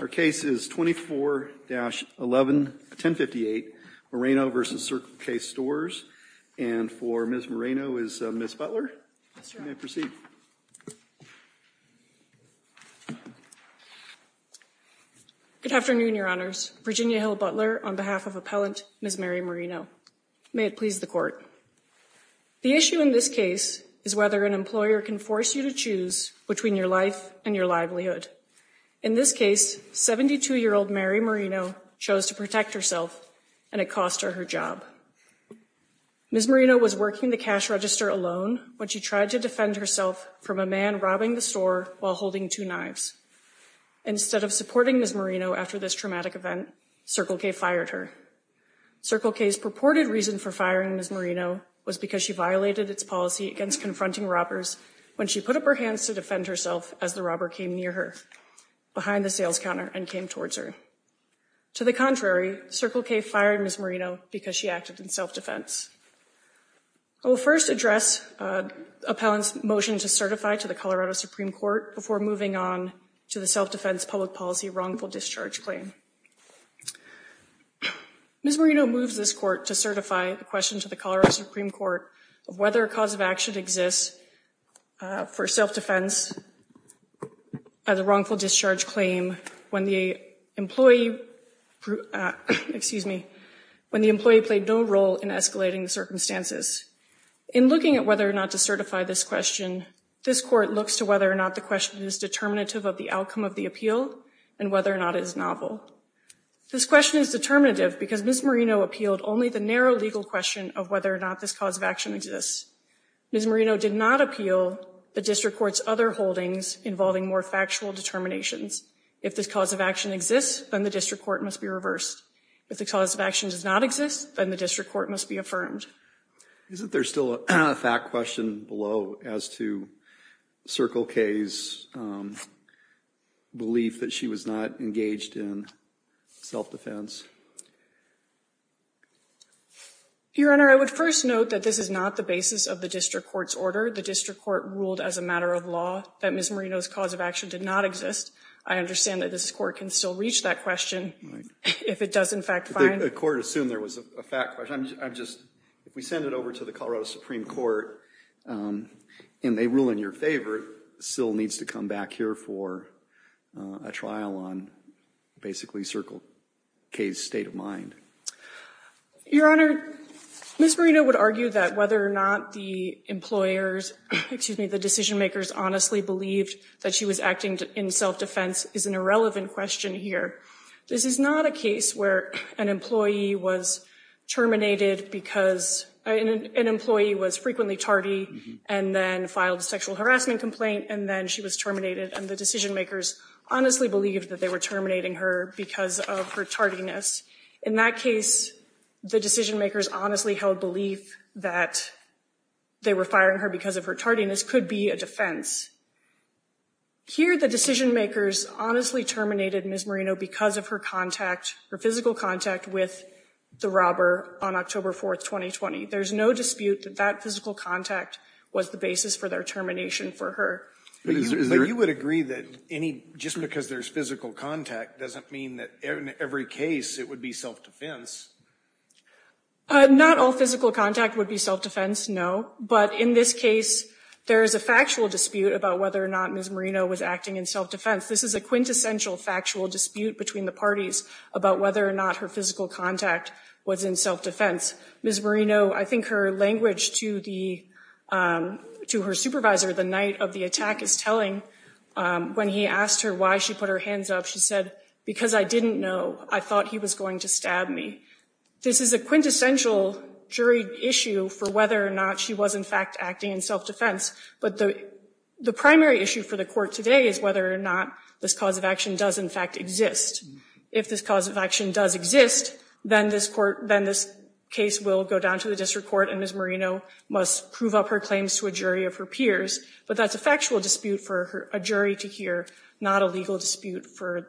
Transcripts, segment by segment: Our case is 24-11-1058 Moreno v. Circle K Stores, and for Ms. Moreno is Ms. Butler. Good afternoon, Your Honors. Virginia Hill Butler on behalf of Appellant Ms. Mary Moreno. May it please the court. The issue in this case is whether an employer can force you to choose between your life and your livelihood. In this case, 72-year-old Mary Moreno chose to protect herself, and it cost her her job. Ms. Moreno was working the cash register alone when she tried to defend herself from a man robbing the store while holding two knives. Instead of supporting Ms. Moreno after this traumatic event, Circle K fired her. Circle K's purported reason for firing Ms. Moreno was because she violated its policy against confronting robbers when she put up her hands to defend herself as the robber came near her. Behind the sales counter and came towards her. To the contrary, Circle K fired Ms. Moreno because she acted in self-defense. I will first address Appellant's motion to certify to the Colorado Supreme Court before moving on to the self-defense public policy wrongful discharge claim. Ms. Moreno moves this court to certify the question to the Colorado Supreme Court of whether a cause of action exists for self-defense as a wrongful discharge claim when the employee, excuse me, when the employee played no role in escalating the circumstances. In looking at whether or not to certify this question, this court looks to whether or not the question is determinative of the outcome of the appeal and whether or not it is novel. This question is determinative because Ms. Moreno appealed only the narrow legal question of whether or not this cause of action exists. Ms. Moreno did not appeal the district court's other holdings involving more factual determinations. If this cause of action exists, then the district court must be reversed. If the cause of action does not exist, then the district court must be affirmed. Isn't there still a fact question below as to Circle K's belief that she was not engaged in self-defense? Your Honor, I would first note that this is not the basis of the district court's order. The district court ruled as a matter of law that Ms. Moreno's cause of action did not exist. I understand that this court can still reach that question if it does in fact find... The court assumed there was a fact question. I'm just, if we send it over to the Colorado Supreme Court and they rule in your favor, the court still needs to come back here for a trial on basically Circle K's state of mind. Your Honor, Ms. Moreno would argue that whether or not the employers, excuse me, the decision makers honestly believed that she was acting in self-defense is an irrelevant question here. This is not a case where an employee was terminated because an employee was frequently tardy and then filed a sexual harassment complaint and then she was terminated and the decision makers honestly believed that they were terminating her because of her tardiness. In that case, the decision makers honestly held belief that they were firing her because of her tardiness could be a defense. Here, the decision makers honestly terminated Ms. Moreno because of her contact, her physical contact with the robber on October 4th, 2020. There's no dispute that that physical contact was the basis for their termination for her. But you would agree that any, just because there's physical contact doesn't mean that in every case it would be self-defense. Not all physical contact would be self-defense, no. But in this case, there is a factual dispute about whether or not Ms. Moreno was acting in self-defense. This is a quintessential factual dispute between the parties about whether or not her physical contact was in self-defense. Ms. Moreno, I think her language to her supervisor the night of the attack is telling. When he asked her why she put her hands up, she said, because I didn't know, I thought he was going to stab me. This is a quintessential jury issue for whether or not she was in fact acting in self-defense. But the primary issue for the court today is whether or not this cause of action does in fact exist. If this cause of action does exist, then this case will go down to the district court and Ms. Moreno must prove up her claims to a jury of her peers. But that's a factual dispute for a jury to hear, not a legal dispute for,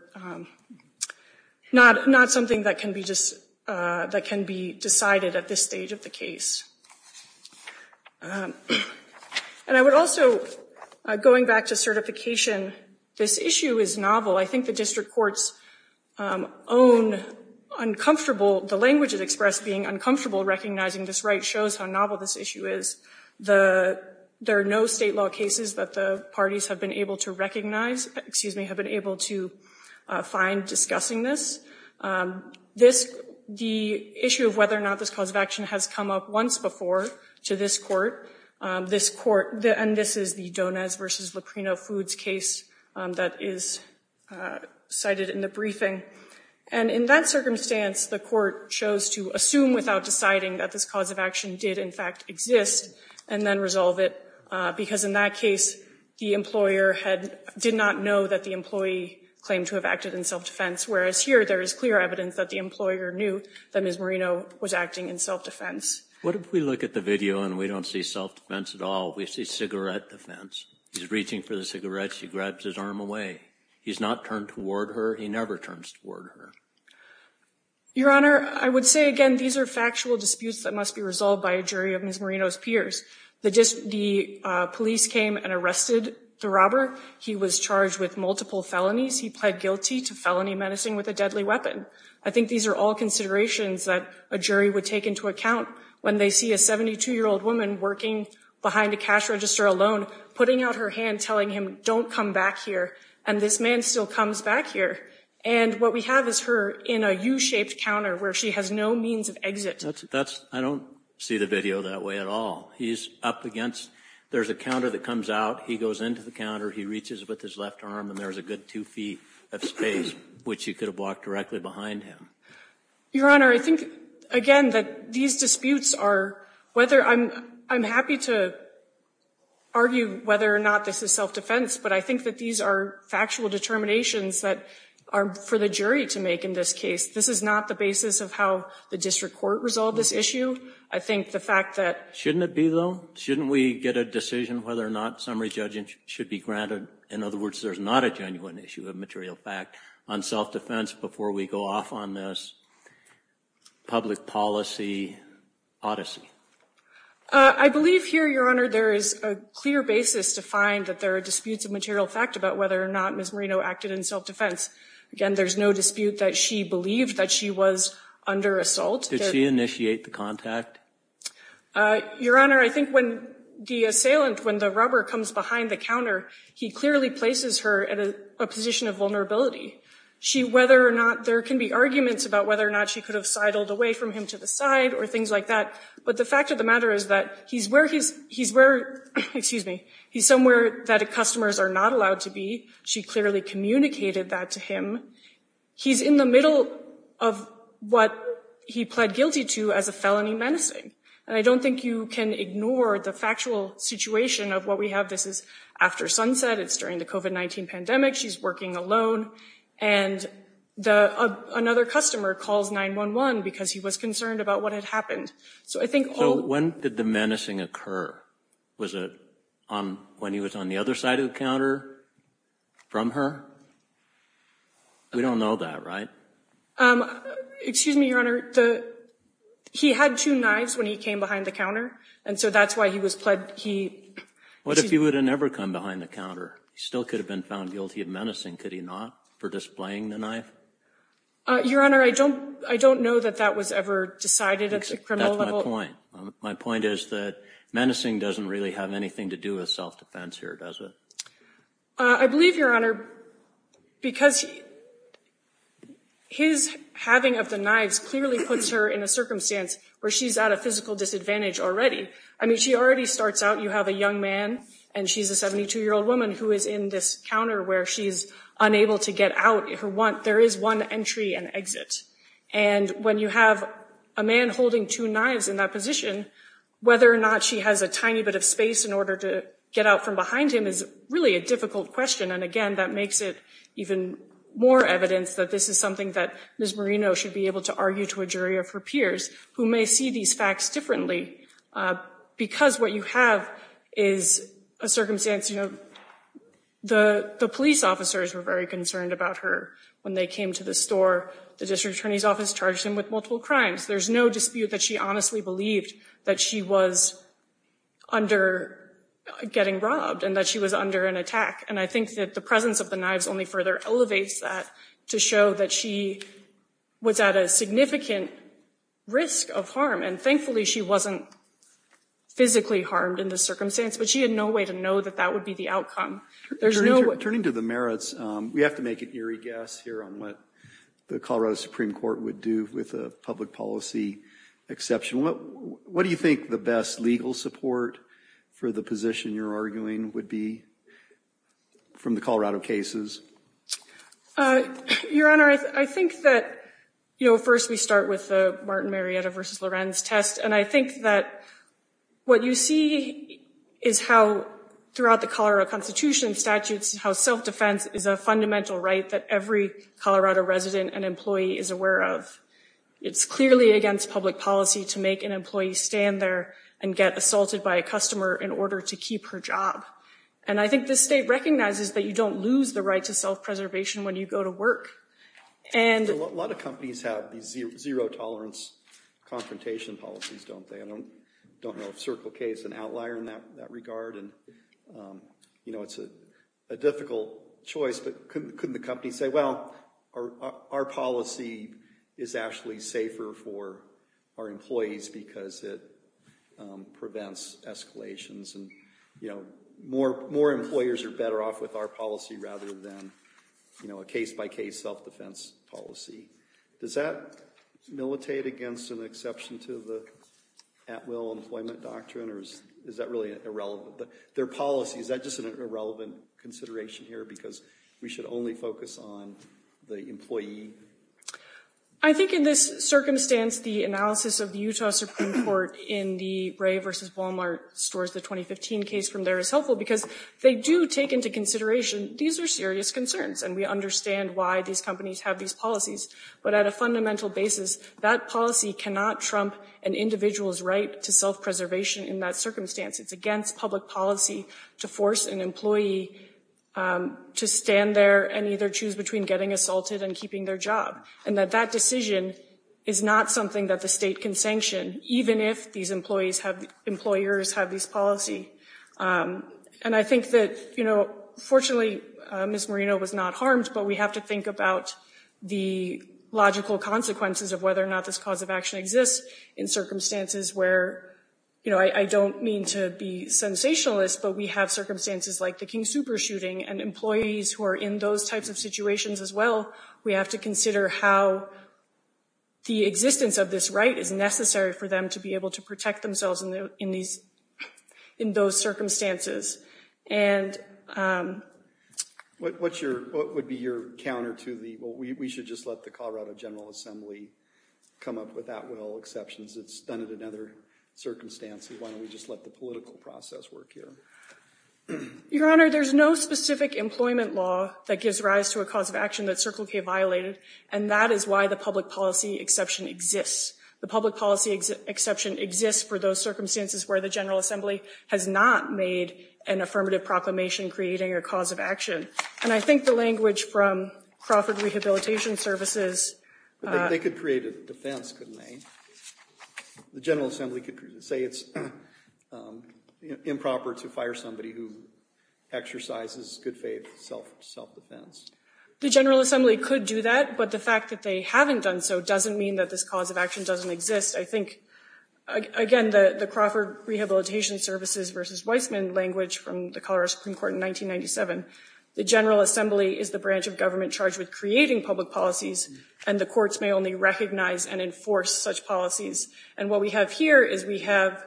not something that can be decided at this stage of the case. And I would also, going back to certification, this issue is novel. I think the district court's own uncomfortable, the language is expressed being uncomfortable recognizing this right shows how novel this issue is. The, there are no state law cases that the parties have been able to recognize, excuse me, have been able to find discussing this. This, the issue of whether or not this cause of action has come up once before to this court. This court, and this is the Donez v. Leprino Foods case that is cited in the briefing. And in that circumstance, the court chose to assume without deciding that this cause of action did in fact exist and then resolve it. Because in that case, the employer had, did not know that the employee claimed to have acted in self-defense, whereas here there is clear evidence that the employer knew that Ms. Moreno was acting in self-defense. What if we look at the video and we don't see self-defense at all? We see cigarette defense. He's reaching for the cigarette. She grabs his arm away. He's not turned toward her. He never turns toward her. Your Honor, I would say again, these are factual disputes that must be resolved by a jury of Ms. Moreno's peers. The police came and arrested the robber. He was charged with multiple felonies. He pled guilty to felony menacing with a deadly weapon. I think these are all considerations that a jury would take into account when they see a 72-year-old woman working behind a cash register alone, putting out her hand, telling him, don't come back here. And this man still comes back here. And what we have is her in a U-shaped counter where she has no means of exit. That's, I don't see the video that way at all. He's up against, there's a counter that comes out. He goes into the counter. He reaches with his left arm and there's a good two feet of space, which he could have walked directly behind him. Your Honor, I think again that these disputes are, whether I'm, I'm happy to argue whether or not this is self-defense, but I think that these are factual determinations that are for the jury to make in this case. This is not the basis of how the district court resolved this issue. I think the fact that. Shouldn't it be though? Shouldn't we get a decision whether or not summary judging should be granted? In other words, there's not a genuine issue of material fact on self-defense before we go off on this public policy odyssey. I believe here, Your Honor, there is a clear basis to find that there are disputes of material fact about whether or not Ms. Marino acted in self-defense. Again, there's no dispute that she believed that she was under assault. Did she initiate the contact? Your Honor, I think when the assailant, when the robber comes behind the counter, he clearly places her at a position of vulnerability. She, whether or not there can be arguments about whether or not she could have sidled away from him to the side or things like that. But the fact of the matter is that he's where he's, he's where, excuse me, he's somewhere that customers are not allowed to be. She clearly communicated that to him. He's in the middle of what he pled guilty to as a felony menacing. And I don't think you can ignore the factual situation of what we have. This is after sunset. It's during the COVID-19 pandemic. She's working alone. And another customer calls 9-1-1 because he was concerned about what had happened. So I think when did the menacing occur? Was it on when he was on the other side of the counter from her? We don't know that, right? Um, excuse me, Your Honor, the, he had two knives when he came behind the counter. And so that's why he was pled. He, what if he would have never come behind the counter? He still could have been found guilty of menacing. Could he not for displaying the knife? Your Honor, I don't, I don't know that that was ever decided at the criminal level. My point is that menacing doesn't really have anything to do with self-defense here, does it? I believe, Your Honor, because his having of the knives clearly puts her in a circumstance where she's at a physical disadvantage already. I mean, she already starts out. You have a young man and she's a 72-year-old woman who is in this counter where she's unable to get out. There is one entry and exit. And when you have a man holding two knives in that position, whether or not she has a tiny bit of space in order to get out from behind him is really a difficult question. And again, that makes it even more evidence that this is something that Ms. Marino should be able to argue to a jury of her peers who may see these facts differently, uh, because what you have is a circumstance, you know, the, the police officers were very concerned about her when they came to the store. The district attorney's office charged him with multiple crimes. There's no dispute that she honestly believed that she was under getting robbed and that she was under an attack. And I think that the presence of the knives only further elevates that to show that she was at a significant risk of harm. And thankfully she wasn't physically harmed in this circumstance, but she had no way to know that that would be the outcome. There's no way. Turning to the merits, um, we have to make an eerie guess here on what the Colorado Supreme Court would do with a public policy exception. What, what do you think the best legal support for the position you're arguing would be from the Colorado cases? Uh, Your Honor, I think that, you know, first we start with the Martin Marietta versus Lorenz test. And I think that what you see is how throughout the Colorado constitution statutes, how self-defense is a fundamental right that every Colorado resident and employee is aware of. It's clearly against public policy to make an employee stand there and get assaulted by a customer in order to keep her job. And I think this state recognizes that you don't lose the right to self preservation when you go to work. And a lot of companies have these zero tolerance confrontation policies, don't they? I don't, don't know if Circle K is an outlier in that regard. And, um, you know, it's a difficult choice, but couldn't the company say, well, our, our policy is actually safer for our employees because it, um, prevents escalations and, you know, more, more employers are better off with our policy rather than, you know, a case by case self-defense policy. Does that militate against an exception to the at-will employment doctrine? Or is, is that really irrelevant? But their policy, is that just an irrelevant consideration here? Because we should only focus on the employee. I think in this circumstance, the analysis of the Utah Supreme Court in the Ray versus Walmart stores, the 2015 case from there is helpful because they do take into consideration. These are serious concerns and we understand why these companies have these policies, but at a fundamental basis, that policy cannot trump an individual's right to self-preservation in that circumstance. It's against public policy to force an employee, um, to stand there and either choose between getting assaulted and keeping their job. And that that decision is not something that the state can sanction, even if these employees have, employers have these policy. Um, and I think that, you know, fortunately, uh, Ms. Moreno was not harmed, but we have to think about the logical consequences of whether or not this cause of action exists in circumstances where, you know, I don't mean to be sensationalist, but we have circumstances like the King super shooting and employees who are in those types of situations as well. We have to consider how the existence of this right is necessary for them to be able to protect themselves in these, in those circumstances. And, um, what's your, what would be your counter to the, well, we should just let the Colorado General Assembly come up with that with all exceptions. It's done it in other circumstances. Why don't we just let the political process work here? Your Honor, there's no specific employment law that gives rise to a cause of action that Circle K violated. And that is why the public policy exception exists. The public policy exception exists for those circumstances where the General Assembly has not made an affirmative proclamation creating a cause of action. And I think the language from Crawford Rehabilitation Services, uh. They could create a defense, couldn't they? The General Assembly could say it's improper to fire somebody who exercises good faith, self, self-defense. The General Assembly could do that, but the fact that they haven't done so doesn't mean that this cause of action doesn't exist. I think, again, the Crawford Rehabilitation Services versus Weissman language from the Colorado Supreme Court in 1997, the General Assembly is the branch of government charged with creating public policies and the courts may only recognize and enforce such policies. And what we have here is we have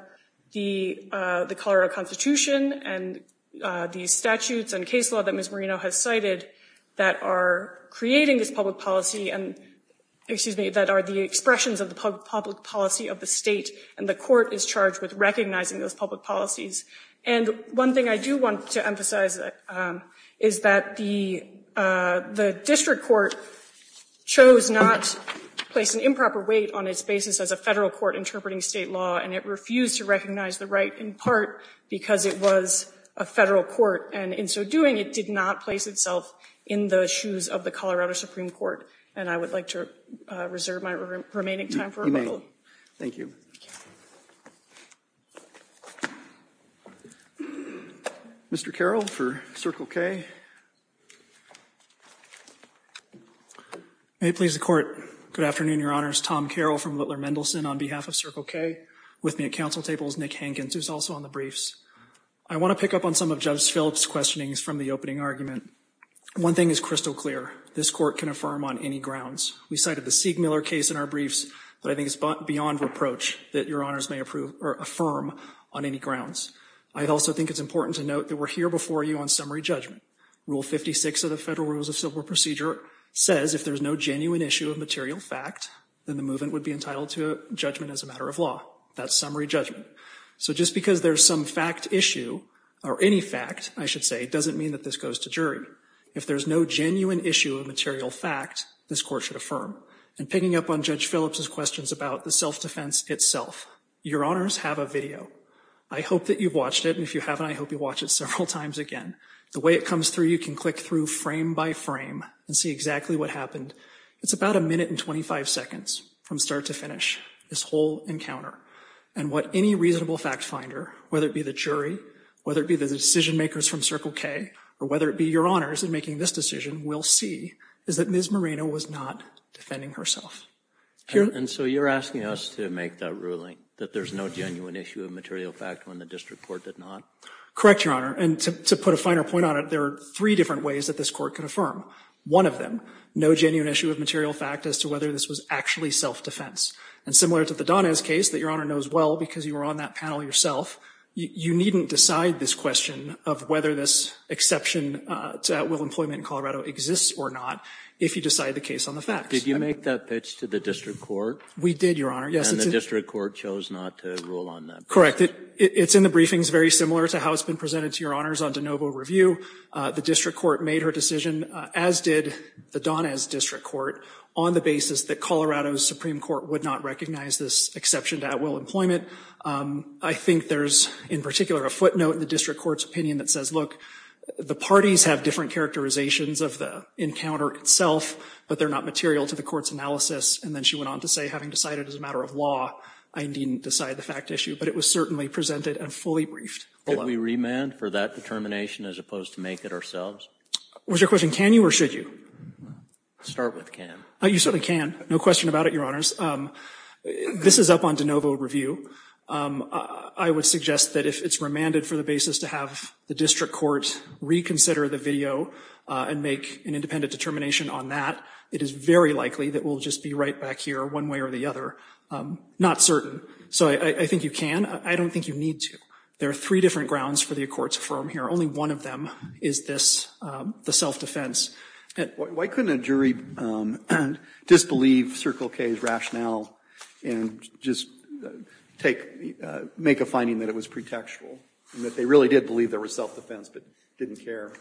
the, uh, the Colorado constitution and, uh, the statutes and case law that Ms. Marino has cited that are creating this public policy and excuse me, that are the expressions of the public policy of the state. And the court is charged with recognizing those public policies. And one thing I do want to emphasize, um, is that the, uh, the district court chose not to place an improper weight on its basis as a federal court interpreting state law and it refused to recognize the right in part because it was a federal court and in so doing, it did not place itself in the shoes of the Colorado Supreme Court. And I would like to, uh, reserve my remaining time for rebuttal. Thank you. Mr. Carroll for Circle K. May it please the court. Good afternoon, Your Honors. Tom Carroll from Littler Mendelson on behalf of Circle K with me at council tables, Nick Hankins, who's also on the briefs. I want to pick up on some of Judge Phillips' questionings from the opening argument. One thing is crystal clear. This court can affirm on any grounds. We cited the Siegmiller case in our briefs, but I think it's beyond reproach that Your Honors may approve or affirm on any grounds. I also think it's important to note that we're here before you on summary judgment. Rule 56 of the Federal Rules of Civil Procedure says if there's no genuine issue of material fact, then the movement would be entitled to a judgment as a matter of That's summary judgment. So just because there's some fact issue or any fact, I should say, doesn't mean that this goes to jury. If there's no genuine issue of material fact, this court should affirm. And picking up on Judge Phillips' questions about the self-defense itself, Your Honors have a video. I hope that you've watched it. And if you haven't, I hope you watch it several times again. The way it comes through, you can click through frame by frame and see exactly what happened. It's about a minute and 25 seconds from start to finish this whole encounter. And what any reasonable fact finder, whether it be the jury, whether it be the decision makers from Circle K or whether it be Your Honors in making this decision, will see is that Ms. Moreno was not defending herself. And so you're asking us to make that ruling that there's no genuine issue of material fact when the district court did not? Correct, Your Honor. And to put a finer point on it, there are three different ways that this court can affirm. One of them, no genuine issue of material fact as to whether this was actually self-defense. And similar to the Donez case that Your Honor knows well because you were on that panel yourself, you needn't decide this question of whether this exception to outwill employment in Colorado exists or not if you decide the case on the facts. Did you make that pitch to the district court? We did, Your Honor. Yes. And the district court chose not to rule on that? Correct. It's in the briefings very similar to how it's been presented to Your Honors on de novo review. The district court made her decision, as did the Donez district court, on the basis that Colorado's Supreme Court would not recognize this exception to outwill employment. I think there's in particular a footnote in the district court's opinion that says, look, the parties have different characterizations of the encounter itself, but they're not material to the court's analysis. And then she went on to say, having decided as a matter of law, I didn't decide the fact issue, but it was certainly presented and fully briefed. Did we remand for that determination as opposed to make it ourselves? Was your question, can you or should you? Start with can. You certainly can. No question about it, Your Honors. This is up on de novo review. I would suggest that if it's remanded for the basis to have the district court reconsider the video and make an independent determination on that, it is very likely that we'll just be right back here one way or the other. Not certain. So I think you can. I don't think you need to. There are three different grounds for the Accords of Firm here. Only one of them is this, the self-defense. Why couldn't a jury disbelieve Circle K's rationale and just take, make a finding that it was pretextual and that they really did believe there was self-defense but didn't care?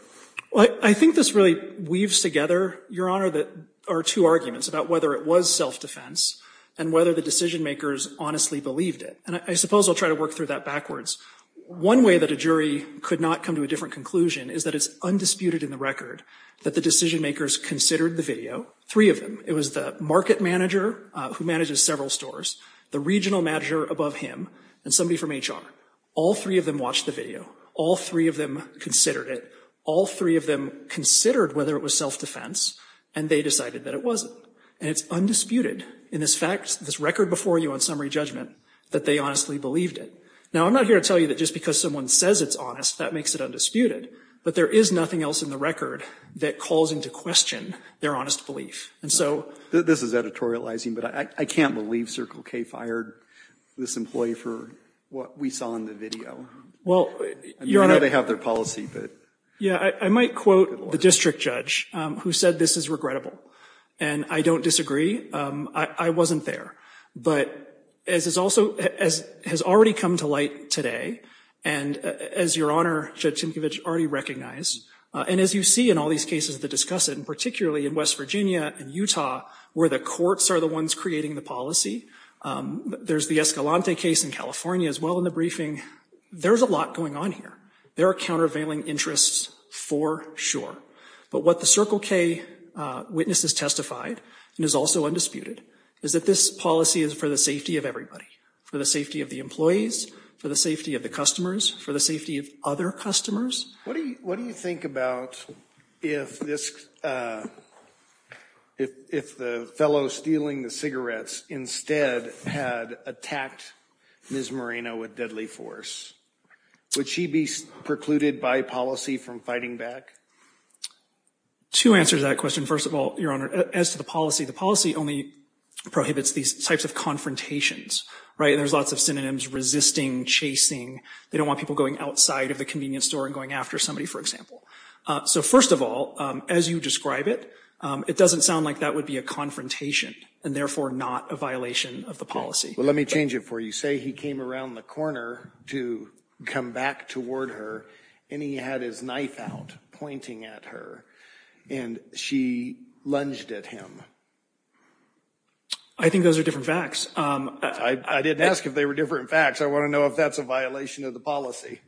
Well, I think this really weaves together, Your Honor, that our two arguments about whether it was self-defense and whether the decision makers honestly believed it. And I suppose I'll try to work through that backwards. One way that a jury could not come to a different conclusion is that it's undisputed in the record that the decision makers considered the video, three of them. It was the market manager who manages several stores, the regional manager above him and somebody from HR. All three of them watched the video. All three of them considered it. All three of them considered whether it was self-defense and they decided that it wasn't. And it's undisputed in this fact, this record before you on summary judgment, that they honestly believed it. Now, I'm not here to tell you that just because someone says it's honest, that makes it undisputed. But there is nothing else in the record that calls into question their honest belief. And so this is editorializing, but I can't believe Circle K fired this employee for what we saw in the video. Well, Your Honor, they have their policy, but yeah, I might quote the district judge who said this is regrettable and I don't disagree. I wasn't there. But as has already come to light today and as Your Honor, Judge Tinkovich already recognized, and as you see in all these cases that discuss it, and particularly in West Virginia and Utah, where the courts are the ones creating the policy, there's the Escalante case in California as well in the briefing. There's a lot going on here. There are countervailing interests for sure. But what the Circle K witness has testified and is also undisputed is that this policy is for the safety of everybody, for the safety of the employees, for the safety of the customers, for the safety of other customers. What do you think about if this, if the fellow stealing the cigarettes instead had attacked Ms. Moreno with deadly force, would she be precluded by policy from fighting back? Two answers to that question. First of all, Your Honor, as to the policy, the policy only prohibits these types of confrontations, right? And there's lots of synonyms resisting, chasing. They don't want people going outside of the convenience store and going after somebody, for example. So first of all, as you describe it, it doesn't sound like that would be a confrontation and therefore not a violation of the policy. Well, let me change it for you. Say he came around the corner to come back toward her and he had his knife out pointing at her and she lunged at him. I think those are different facts. I didn't ask if they were different facts. I want to know if that's a violation of the policy.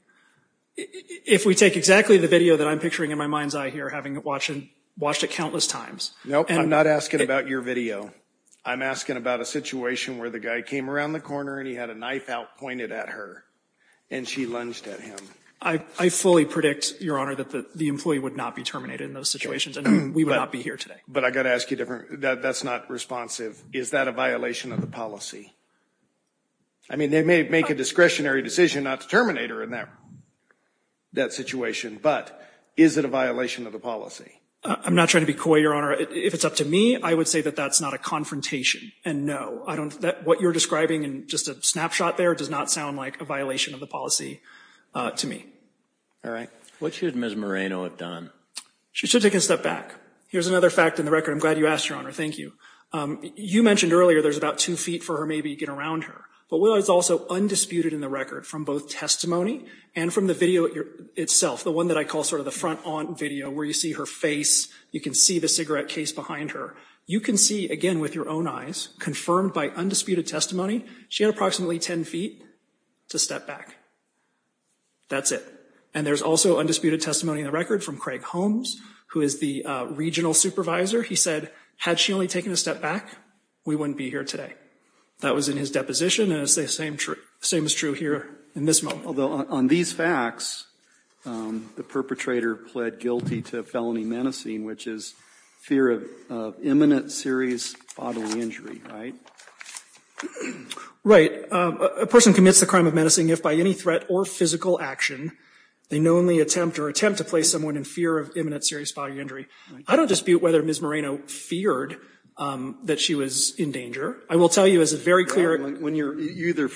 If we take exactly the video that I'm picturing in my mind's eye here, having watched it countless times. No, I'm not asking about your video. I'm asking about a situation where the guy came around the corner and he had a knife out pointed at her and she lunged at him. I fully predict, Your Honor, that the employee would not be terminated in those situations and we would not be here today. But I've got to ask you a different, that's not responsive. Is that a violation of the policy? I mean, they may make a discretionary decision not to terminate her in that situation, but is it a violation of the policy? I'm not trying to be coy, Your Honor. If it's up to me, I would say that that's not a confrontation. And no, I don't, what you're describing in just a snapshot there does not sound like a violation of the policy to me. All right. What should Ms. Moreno have done? She should take a step back. Here's another fact in the record. I'm glad you asked, Your Honor. Thank you. You mentioned earlier, there's about two feet for her maybe to get around her, but Willow is also undisputed in the record from both testimony and from the video itself, the one that I call sort of the front-aunt video where you see her face. You can see the cigarette case behind her. You can see, again, with your own eyes, confirmed by undisputed testimony, she had approximately 10 feet to step back. That's it. And there's also undisputed testimony in the record from Craig Holmes, who is the regional supervisor. He said, had she only taken a step back, we wouldn't be here today. That was in his deposition. And it's the same, same is true here in this moment. Although on these facts, the perpetrator pled guilty to felony menacing, which is fear of imminent serious bodily injury, right? Right. A person commits the crime of menacing if, by any threat or physical action, they knowingly attempt or attempt to place someone in fear of imminent serious bodily injury. I don't dispute whether Ms. Moreno feared that she was in danger. I will tell you as a very clear — When you're — you either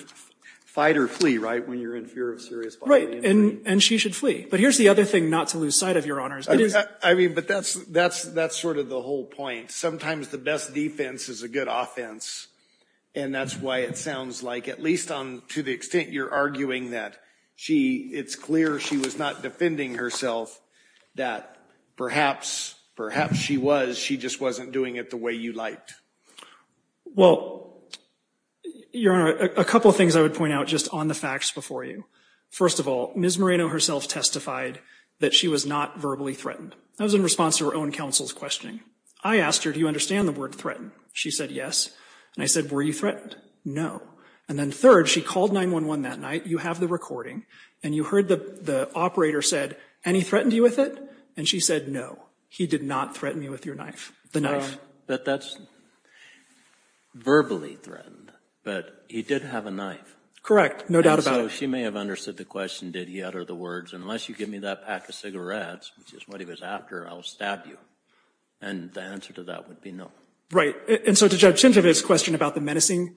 fight or flee, right, when you're in fear of serious bodily injury? Right. And she should flee. But here's the other thing not to lose sight of, Your Honors. It is — I mean, but that's — that's sort of the whole point. Sometimes the best defense is a good offense, and that's why it sounds like, at least on — to the extent you're arguing that she — it's clear she was not defending herself, that perhaps, perhaps she was. She just wasn't doing it the way you liked. Well, Your Honor, a couple of things I would point out just on the facts before you. First of all, Ms. Moreno herself testified that she was not verbally threatened. That was in response to her own counsel's questioning. I asked her, do you understand the word threaten? She said, yes. And I said, were you threatened? No. And then third, she called 911 that night. You have the recording. And you heard the operator said, and he threatened you with it? And she said, no, he did not threaten me with your knife — the knife. But that's verbally threatened. But he did have a knife. Correct. No doubt about it. And so she may have understood the question, did he utter the words, unless you give me that pack of cigarettes, which is what he was after, I will stab you. And the answer to that would be no. And so to Judge Tintivet's question about the menacing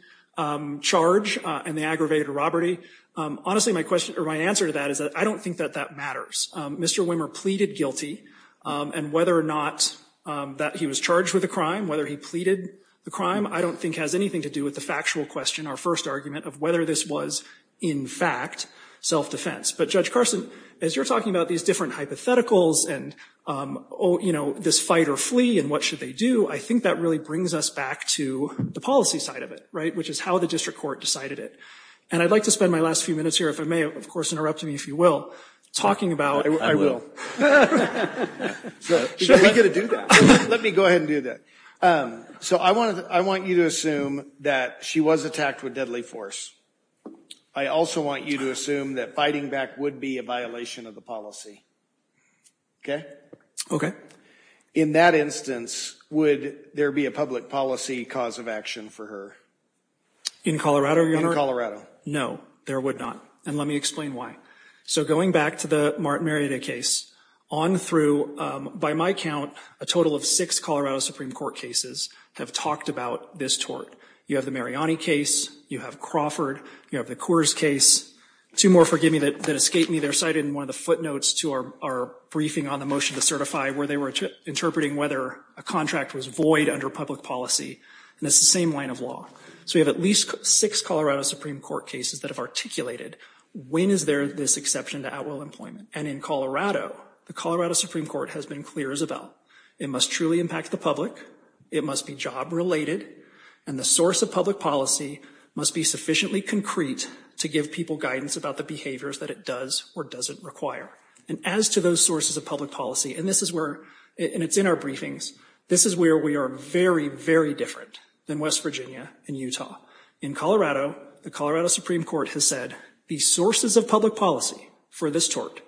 charge and the aggravated robbery, honestly, my question or my answer to that is that I don't think that that Mr. Wimmer pleaded guilty, and whether or not that he was charged with a crime, whether he pleaded the crime, I don't think has anything to do with the factual question, our first argument of whether this was, in fact, self-defense. But Judge Carson, as you're talking about these different hypotheticals and, you know, did this fight or flee and what should they do, I think that really brings us back to the policy side of it, right, which is how the district court decided it. And I'd like to spend my last few minutes here, if I may, of course, interrupt me, if you will, talking about — I will. Should we get to do that? Let me go ahead and do that. So I want to — I want you to assume that she was attacked with deadly force. I also want you to assume that fighting back would be a violation of the policy. OK? OK. In that instance, would there be a public policy cause of action for her? In Colorado, Your Honor? No, there would not. And let me explain why. So going back to the Martin Marietta case, on through — by my count, a total of six Colorado Supreme Court cases have talked about this tort. You have the Mariani case. You have Crawford. You have the Coors case. Two more, forgive me, that escaped me. They're cited in one of the footnotes to our briefing on the motion to certify where they were interpreting whether a contract was void under public policy. And it's the same line of law. So we have at least six Colorado Supreme Court cases that have articulated, when is there this exception to at-will employment? And in Colorado, the Colorado Supreme Court has been clear as a bell. It must truly impact the public. It must be job-related. And the source of public policy must be sufficiently concrete to give people guidance about the behaviors that it does or doesn't require. And as to those sources of public policy, and this is where — and it's in our briefings — this is where we are very, very different than West Virginia and Utah. In Colorado, the Colorado Supreme Court has said the sources of public policy for this tort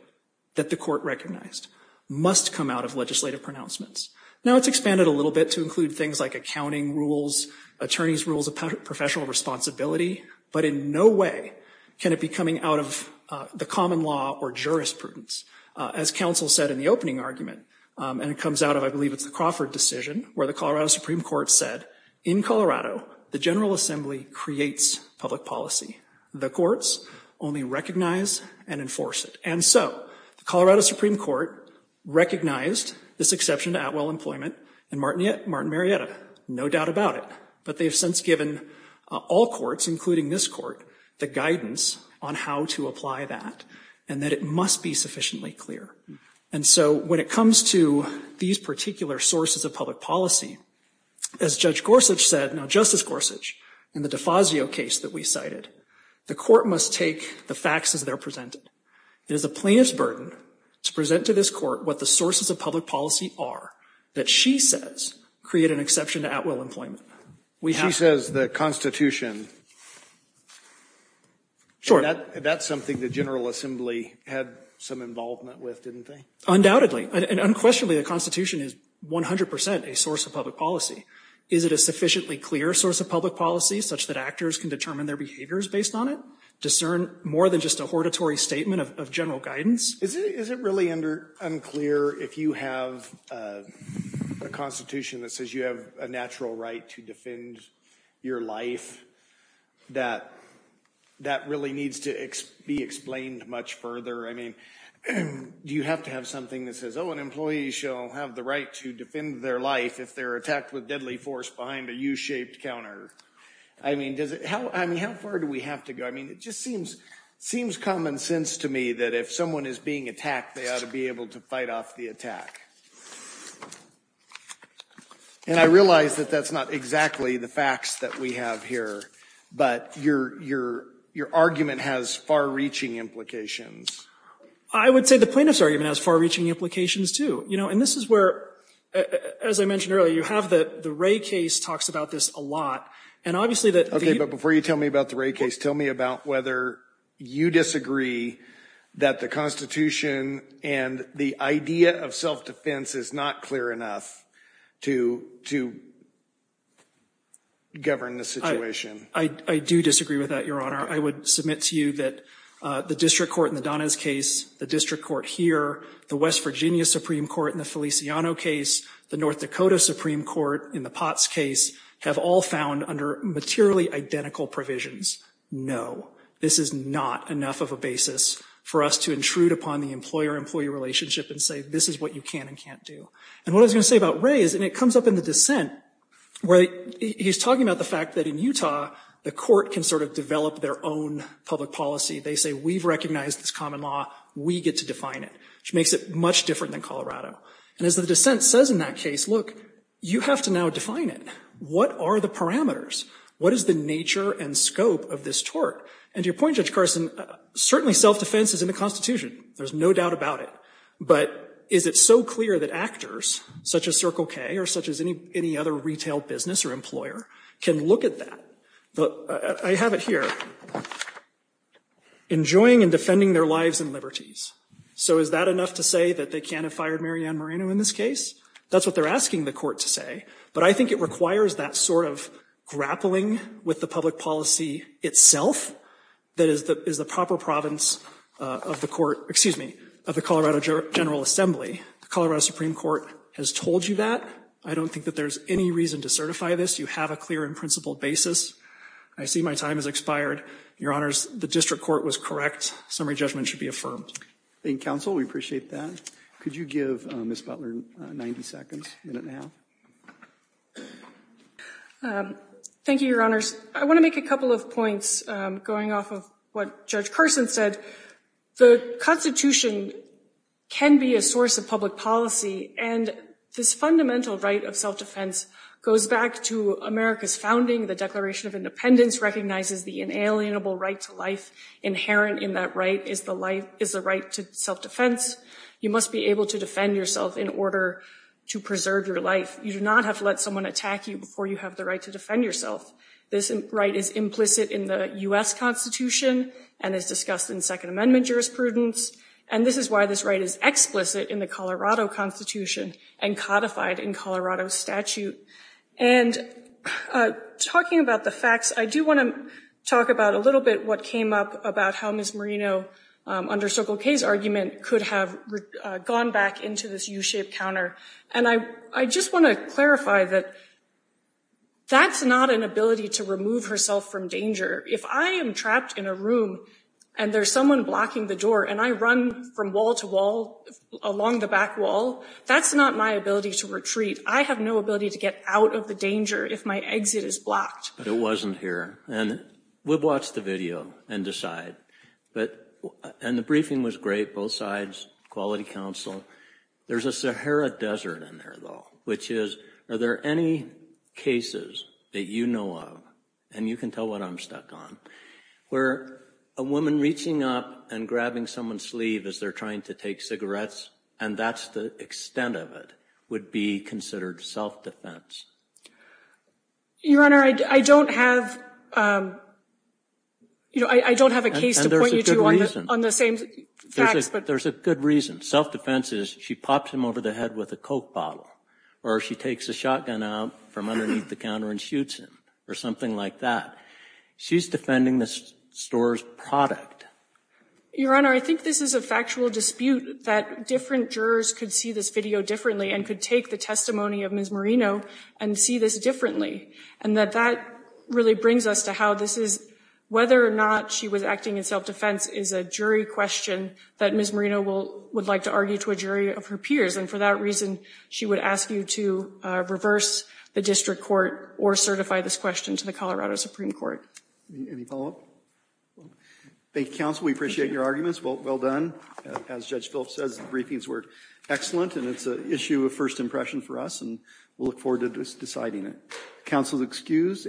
that the court recognized must come out of legislative pronouncements. Now it's expanded a little bit to include things like accounting rules, attorney's rules of professional responsibility. But in no way can it be coming out of the common law or jurisprudence. As counsel said in the opening argument, and it comes out of, I believe, it's the Crawford decision, where the Colorado Supreme Court said, in Colorado, the General Assembly creates public policy. The courts only recognize and enforce it. And so the Colorado Supreme Court recognized this exception to at-will employment, and Martin Marietta, no doubt about it. But they have since given all courts, including this court, the guidance on how to apply that and that it must be sufficiently clear. And so when it comes to these particular sources of public policy, as Judge Gorsuch said — now Justice Gorsuch, in the Defazio case that we cited, the court must take the facts as they're presented. It is a plaintiff's burden to present to this court what the sources of public policy are that she says create an exception to at-will employment. She says the Constitution. That's something the General Assembly had some involvement with, didn't they? Undoubtedly. And unquestionably, the Constitution is 100 percent a source of public policy. Is it a sufficiently clear source of public policy such that actors can determine their behaviors based on it, discern more than just a hortatory statement of general guidance? Is it really unclear if you have a Constitution that says you have a natural right to defend your life, that that really needs to be explained much further? I mean, do you have to have something that says, oh, an employee shall have the right to defend their life if they're attacked with deadly force behind a U-shaped counter? I mean, how far do we have to go? I mean, it just seems common sense to me that if someone is being attacked, they ought to be able to fight off the attack. And I realize that that's not exactly the facts that we have here, but your argument has far-reaching implications. I would say the plaintiff's argument has far-reaching implications, too. You know, and this is where, as I mentioned earlier, you have the Ray case talks about this a lot. And obviously, that the – Okay, but before you tell me about the Ray case, tell me about whether you disagree that the Constitution and the idea of self-defense is not clear enough to govern the situation. I do disagree with that, Your Honor. I would submit to you that the district court in the Donna's case, the district court here, the West Virginia Supreme Court in the Feliciano case, the North Dakota Supreme Court in the Potts case have all found, under materially identical provisions, no, this is not enough of a basis for us to intrude upon the employer-employee relationship and say, this is what you can and can't do. And what I was going to say about Ray is, and it comes up in the dissent, where he's talking about the fact that in Utah, the court can sort of develop their own public policy. They say, we've recognized this common law. We get to define it, which makes it much different than Colorado. And as the dissent says in that case, look, you have to now define it. What are the parameters? What is the nature and scope of this tort? And to your point, Judge Carson, certainly self-defense is in the Constitution. There's no doubt about it. But is it so clear that actors, such as Circle K or such as any other retail business or employer, can look at that? I have it here. Enjoying and defending their lives and liberties. So is that enough to say that they can't have fired Mary Ann Marino in this case? That's what they're asking the court to say. But I think it requires that sort of grappling with the public policy itself that is the proper province of the court, excuse me, of the Colorado General Assembly. The Colorado Supreme Court has told you that. I don't think that there's any reason to certify this. You have a clear and principled basis. I see my time has expired. Your Honors, the district court was correct. Summary judgment should be affirmed. Thank you, counsel. We appreciate that. Could you give Ms. Butler 90 seconds, a minute and a half? Thank you, Your Honors. I want to make a couple of points going off of what Judge Carson said. The Constitution can be a source of public policy. And this fundamental right of self-defense goes back to America's founding. The Declaration of Independence recognizes the inalienable right to life. Inherent in that right is the right to self-defense. You must be able to defend yourself in order to preserve your life. You do not have to let someone attack you before you have the right to defend yourself. This right is implicit in the U.S. Constitution and is discussed in Second Amendment jurisprudence. And this is why this right is explicit in the Colorado Constitution and codified in Colorado statute. And talking about the facts, I do want to talk about a little bit what came up about how Ms. Marino, under Circle K's argument, could have gone back into this U-shaped counter. And I just want to clarify that that's not an ability to remove herself from danger. If I am trapped in a room and there's someone blocking the door and I run from wall to wall along the back wall, that's not my ability to retreat. I have no ability to get out of the danger if my exit is blocked. But it wasn't here. And we'll watch the video and decide. And the briefing was great, both sides, quality counsel. There's a Sahara Desert in there, though, which is, are there any cases that you know of, and you can tell what I'm stuck on, where a woman reaching up and grabbing someone's sleeve as they're trying to take cigarettes, and that's the extent of it, would be considered self-defense? Your Honor, I don't have a case to point you to on the same facts. There's a good reason. Self-defense is she pops him over the head with a Coke bottle, or she takes a shotgun out from underneath the counter and shoots him, or something like that. She's defending the store's product. Your Honor, I think this is a factual dispute that different jurors could see this video differently and could take the testimony of Ms. Marino and see this differently. And that that really brings us to how this is, whether or not she was acting in self-defense is a jury question that Ms. Marino would like to argue to a jury of her peers. And for that reason, she would ask you to reverse the district court or certify this question to the Colorado Supreme Court. Any follow-up? Thank you, counsel. We appreciate your arguments. Well done. As Judge Philp says, the briefings were excellent, and it's an issue of first impression for us, and we'll look forward to deciding it. Counsel is excused.